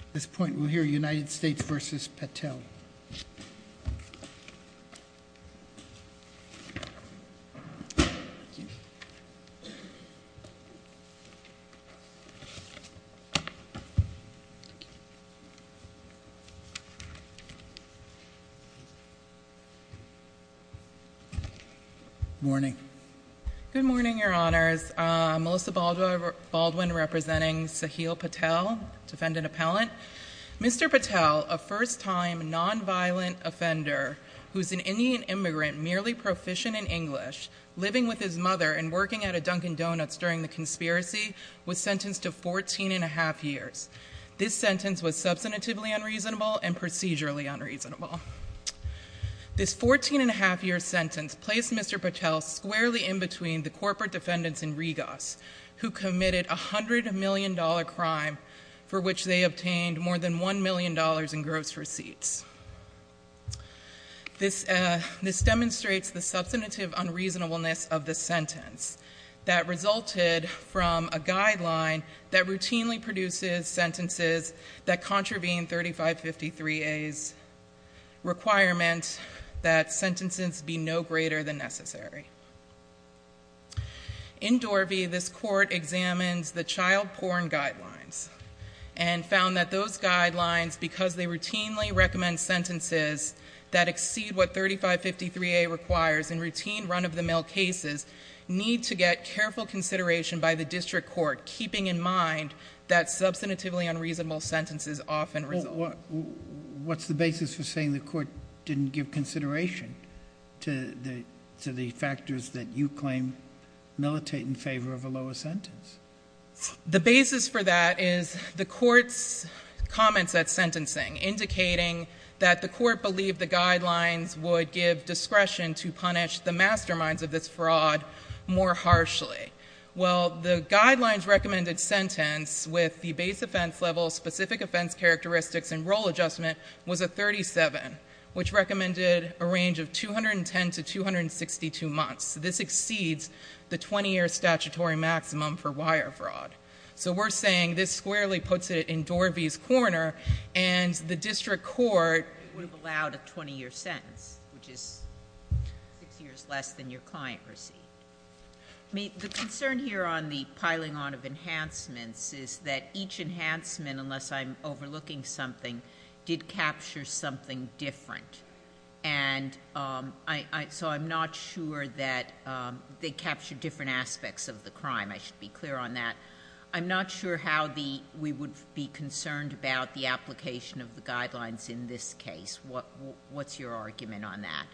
At this point we'll hear United States v. Patel. Morning. Good morning, your honors. Melissa Baldwin representing Sahil Patel, defendant appellant. Mr. Patel, a first time non-violent offender, who's an Indian immigrant merely proficient in English, living with his mother and working at a Dunkin' Donuts during the conspiracy, was sentenced to 14 and 1⁄2 years. This sentence was substantively unreasonable and procedurally unreasonable. This 14 and 1⁄2 year sentence placed Mr. Patel squarely in between the corporate defendants in Rigos, who committed a $100 million crime for which they obtained more than $1 million in gross receipts. This demonstrates the substantive unreasonableness of the sentence that resulted from a guideline that routinely produces sentences that contravene 3553A's requirement and that sentences be no greater than necessary. In Dorvey, this court examines the child porn guidelines and found that those guidelines, because they routinely recommend sentences that exceed what 3553A requires in routine run-of-the-mill cases, need to get careful consideration by the district court, keeping in mind that substantively unreasonable sentences often result. What's the basis for saying the court didn't give consideration to the factors that you claim militate in favor of a lower sentence? The basis for that is the court's comments at sentencing, indicating that the court believed the guidelines would give discretion to punish the masterminds of this fraud more harshly. Well, the guidelines recommended sentence with the base offense level, specific offense characteristics, and role adjustment was a 37, which recommended a range of 210 to 262 months. So this exceeds the 20-year statutory maximum for wire fraud. So we're saying this squarely puts it in Dorvey's corner and the district court would have allowed a 20-year sentence, which is six years less than your client received. The concern here on the piling on of enhancements is that each enhancement, unless I'm overlooking something, did capture something different. And so I'm not sure that they captured different aspects of the crime. I should be clear on that. I'm not sure how we would be concerned about the application of the guidelines in this case. What's your argument on that?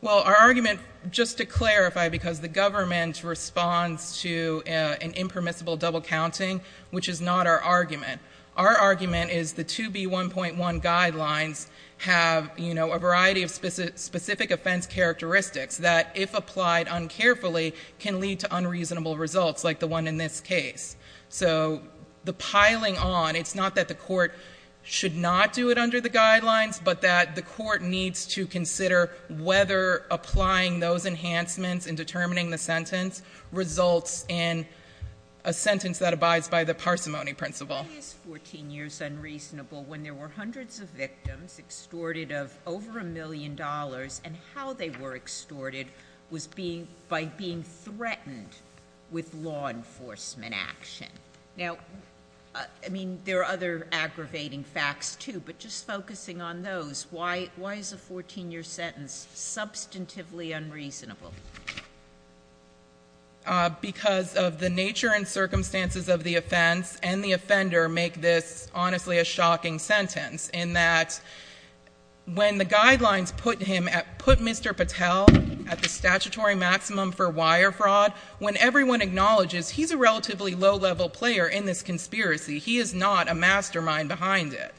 Well, our argument, just to clarify, because the government responds to an impermissible double counting, which is not our argument. Our argument is the 2B1.1 guidelines have a variety of specific offense characteristics that, if applied uncarefully, can lead to unreasonable results, like the one in this case. So the piling on, it's not that the court should not do it under the guidelines, but that the court needs to consider whether applying those enhancements in determining the sentence results in a sentence that abides by the parsimony principle. Why is 14 years unreasonable when there were hundreds of victims extorted of over a million dollars, and how they were extorted was by being threatened with law enforcement action? Now, I mean, there are other aggravating facts, too, but just focusing on those, why is a 14-year sentence substantively unreasonable? Because of the nature and circumstances of the offense, and the offender make this, honestly, a shocking sentence, in that when the guidelines put Mr. Patel at the statutory maximum for wire fraud, when everyone acknowledges he's a relatively low-level player in this conspiracy, he is not a mastermind behind it.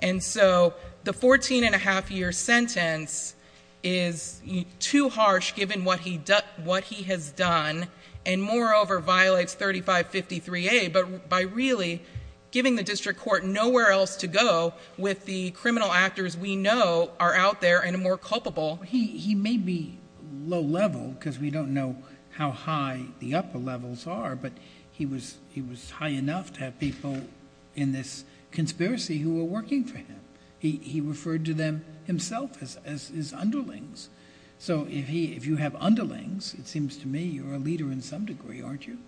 And so the 14-and-a-half-year sentence is too harsh, given what he has done, and moreover, violates 3553A, but by really giving the district court nowhere else to go with the criminal actors we know are out there and more culpable. He may be low-level, because we don't know how high the upper levels are, but he was high enough to have people in this conspiracy who were working for him. He referred to them himself as his underlings. So if you have underlings, it seems to me you're a leader in some degree, aren't you?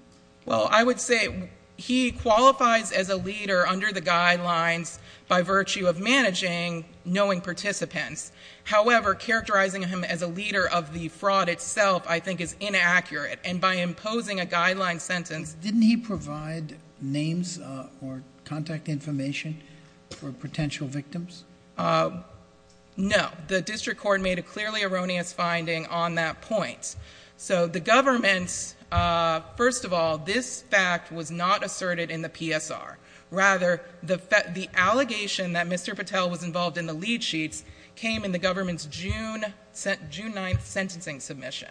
Well, I would say he qualifies as a leader under the guidelines by virtue of managing, knowing participants. However, characterizing him as a leader of the fraud itself I think is inaccurate, and by imposing a guideline sentence- Didn't he provide names or contact information for potential victims? No, the district court made a clearly erroneous finding on that point. So the government, first of all, this fact was not asserted in the PSR. Rather, the allegation that Mr. Patel was involved in the lead sheets came in the government's June 9th sentencing submission.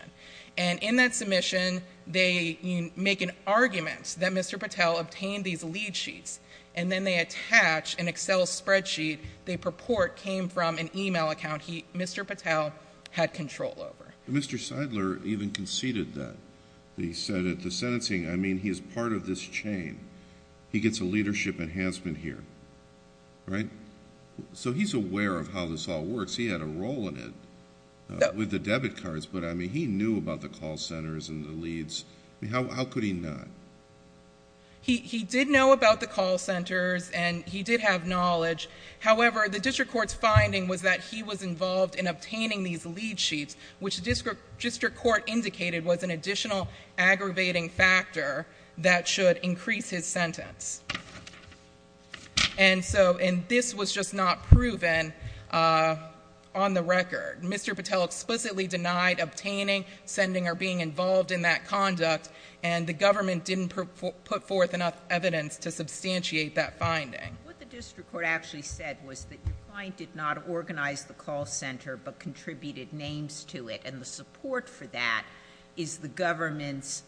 And in that submission, they make an argument that Mr. Patel obtained these lead sheets, and then they attach an Excel spreadsheet they purport came from an email account he, Mr. Patel, had control over. Mr. Seidler even conceded that. He said at the sentencing, I mean, he is part of this chain. He gets a leadership enhancement here, right? So he's aware of how this all works. He had a role in it with the debit cards, but I mean, he knew about the call centers and the leads. I mean, how could he not? He did know about the call centers, and he did have knowledge. However, the district court's finding was that he was involved in obtaining these lead sheets, which the district court indicated was an additional aggravating factor that should increase his sentence. And so, and this was just not proven on the record. Mr. Patel explicitly denied obtaining, sending, or being involved in that conduct, and the government didn't put forth enough evidence to substantiate that finding. What the district court actually said was that your client did not organize the call center, but contributed names to it, and the support for that is the government's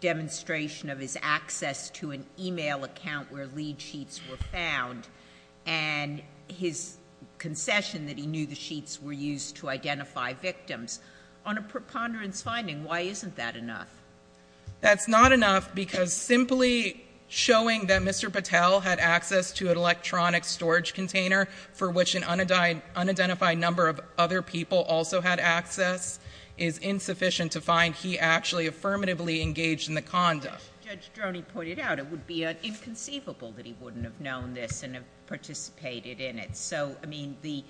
demonstration of his access to an email account where lead sheets were found, and his concession that he knew the sheets were used to identify victims. On a preponderance finding, why isn't that enough? That's not enough because simply showing that Mr. Patel had access to an electronic storage container for which an unidentified number of other people also had access is insufficient to find he actually affirmatively engaged in the conduct. Judge Droney pointed out it would be inconceivable that he wouldn't have known this and have participated in it. So, I mean, the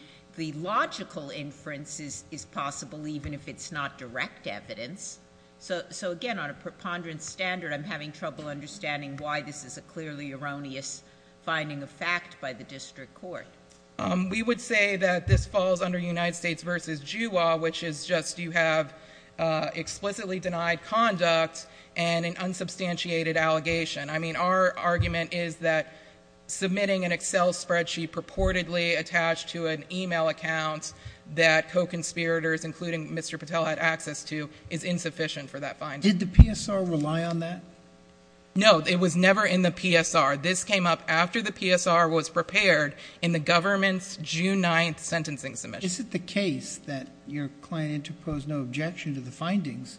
logical inference is possible even if it's not direct evidence. So, again, on a preponderance standard, I'm having trouble understanding why this is a clearly erroneous finding of fact by the district court. We would say that this falls under United States versus Jew law, which is just you have explicitly denied conduct and an unsubstantiated allegation. I mean, our argument is that submitting an Excel spreadsheet purportedly attached to an email account that co-conspirators, including Mr. Patel, had access to is insufficient for that finding. Did the PSR rely on that? No, it was never in the PSR. This came up after the PSR was prepared in the government's June 9th sentencing submission. Is it the case that your client interposed no objection to the findings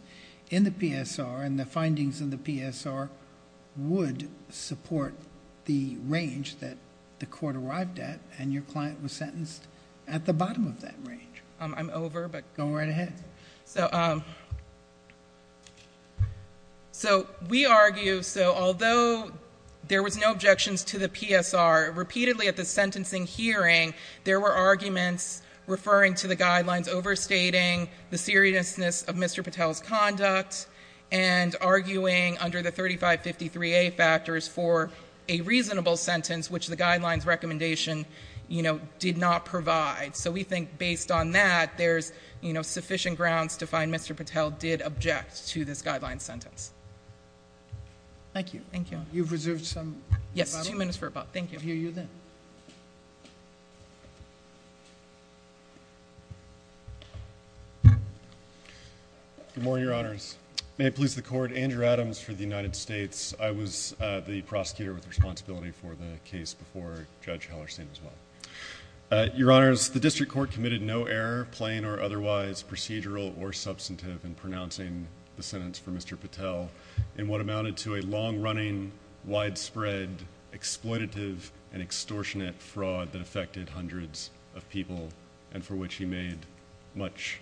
in the PSR and the findings in the PSR would support the range that the court arrived at and your client was sentenced at the bottom of that range? I'm over, but. Go right ahead. So, we argue, so although there was no objections to the PSR, repeatedly at the sentencing hearing, there were arguments referring to the guidelines overstating the seriousness of Mr. Patel's conduct and arguing under the 3553A factors for a reasonable sentence, which the guidelines recommendation did not provide. So, we think based on that, there's sufficient grounds to find Mr. Patel did object to this guideline sentence. Thank you. You've reserved some time? Yes, two minutes for about, thank you. We'll hear you then. Thank you. Good morning, your honors. May it please the court, Andrew Adams for the United States. I was the prosecutor with responsibility for the case before Judge Hellerstein as well. Your honors, the district court committed no error, plain or otherwise, procedural or substantive in pronouncing the sentence for Mr. Patel in what amounted to a long-running, widespread, exploitative, and extortionate fraud that affected hundreds of people and for which he made much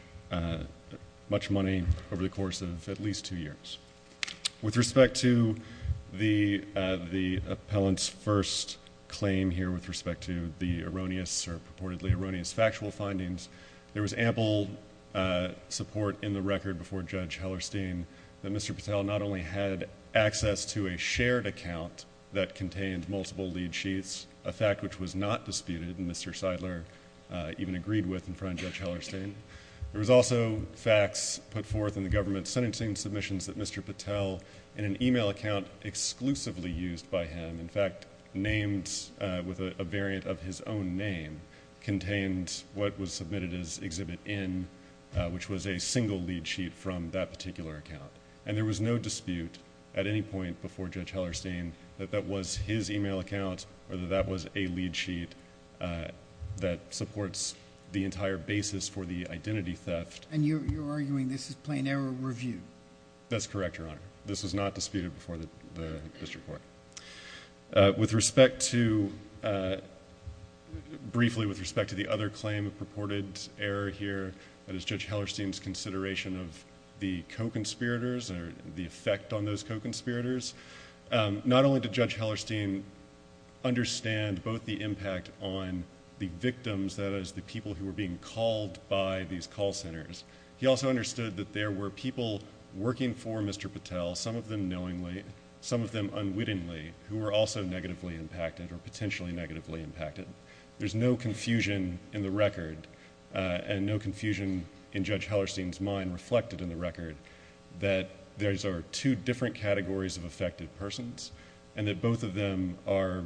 money over the course of at least two years. With respect to the appellant's first claim here with respect to the erroneous or purportedly erroneous factual findings, there was ample support in the record before Judge Hellerstein that Mr. Patel not only had access to a shared account that contained multiple lead sheets, a fact which was not disputed and Mr. Seidler even agreed with in front of Judge Hellerstein. There was also facts put forth in the government sentencing submissions that Mr. Patel, in an email account exclusively used by him, in fact, named with a variant of his own name, contained what was submitted as Exhibit N, which was a single lead sheet from that particular account. And there was no dispute at any point before Judge Hellerstein that that was his email account or that that was a lead sheet that supports the entire basis for the identity theft. And you're arguing this is plain error review? That's correct, Your Honor. This was not disputed before the district court. With respect to, briefly with respect to the other claim of purported error here, that is Judge Hellerstein's consideration of the co-conspirators or the effect on those co-conspirators, not only did Judge Hellerstein understand both the impact on the victims, that is the people who were being called by these call centers, he also understood that there were people working for Mr. Patel, some of them knowingly, some of them unwittingly, who were also negatively impacted or potentially negatively impacted. and no confusion in Judge Hellerstein's mind reflected in the record that there are two different categories of affected persons and that both of them are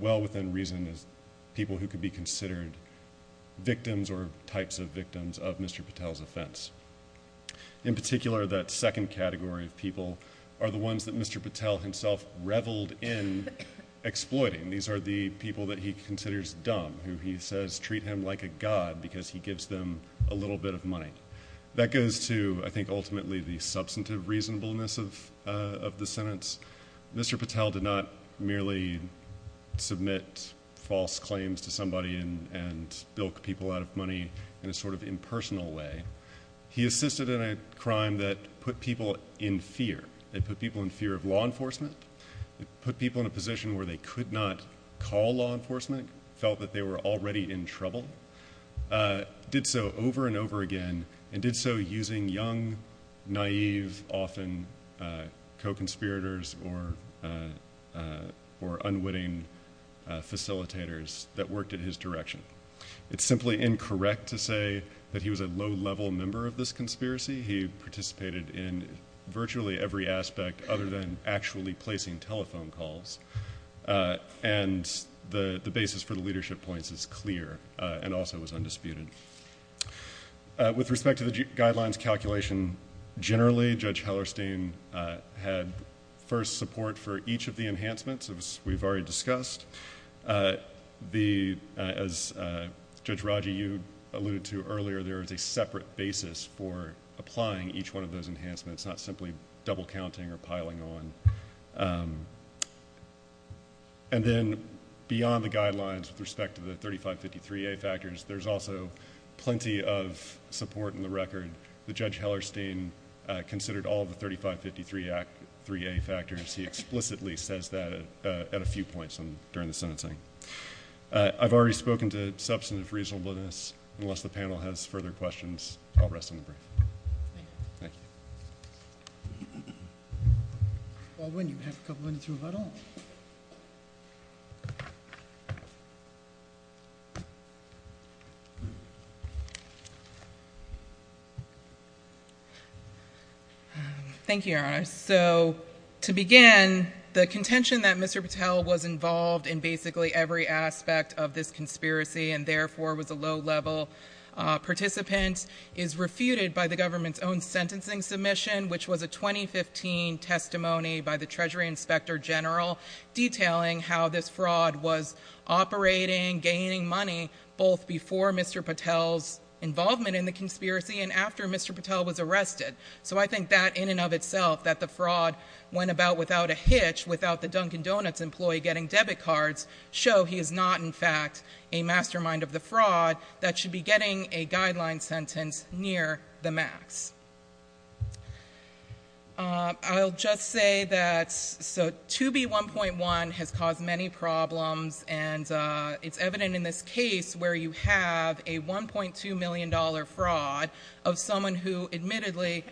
well within reason as people who could be considered victims or types of victims of Mr. Patel's offense. In particular, that second category of people are the ones that Mr. Patel himself reveled in exploiting. These are the people that he considers dumb, who he says treat him like a god because he gives them a little bit of money. That goes to, I think ultimately, the substantive reasonableness of the sentence. Mr. Patel did not merely submit false claims to somebody and bilk people out of money in a sort of impersonal way. He assisted in a crime that put people in fear. It put people in fear of law enforcement, put people in a position felt that they were already in trouble, did so over and over again, and did so using young, naive, often co-conspirators or unwitting facilitators that worked in his direction. It's simply incorrect to say that he was a low-level member of this conspiracy. He participated in virtually every aspect other than actually placing telephone calls. And the basis for the leadership points is clear. And also, it was undisputed. With respect to the guidelines calculation, generally, Judge Hellerstein had first support for each of the enhancements, as we've already discussed. As Judge Raji, you alluded to earlier, there is a separate basis for applying each one of those enhancements, not simply double-counting or piling on. And then, beyond the guidelines with respect to the 3553A factors, there's also plenty of support in the record. The Judge Hellerstein considered all of the 3553A factors. He explicitly says that at a few points during the sentencing. I've already spoken to substantive reasonableness. Unless the panel has further questions, I'll rest on the brief. Thank you. Alwyn, you have a couple minutes to rebuttal. Thank you, Your Honor. So, to begin, the contention that Mr. Patel was involved in basically every aspect of this conspiracy and therefore was a low-level participant is refuted by the government's own sentencing submission, which was a 2015 testimony And I'm not going to go into the details of this, but I think that in and of itself, that the fraud went about without a hitch, without the Dunkin' Donuts employee getting debit cards, show he is not, in fact, a mastermind of the fraud that should be getting a guideline sentence near the max. I'll just say that, so, 2B1.1 has caused many problems It's evident in this case where you have a $1.2 million fraud of someone who, admittedly,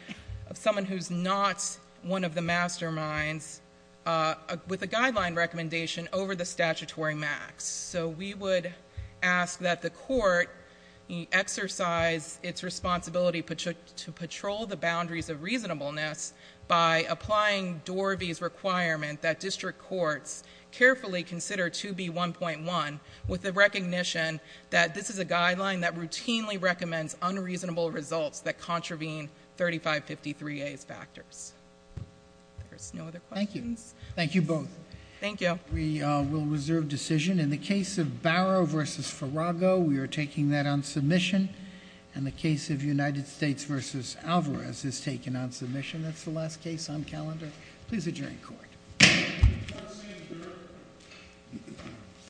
of someone who's not one of the masterminds with a guideline recommendation over the statutory max. So, we would ask that the court exercise its responsibility to patrol the boundaries of reasonableness by applying Dorby's requirement that district courts carefully consider 2B1.1 with the recognition that this is a guideline that routinely recommends unreasonable results that contravene 3553A's factors. There's no other questions. Thank you. Thank you both. Thank you. We will reserve decision. In the case of Barrow v. Farago, we are taking that on submission. In the case of United States v. Alvarez, it's taken on submission. That's the last case on calendar. Please adjourn court. Court is adjourned.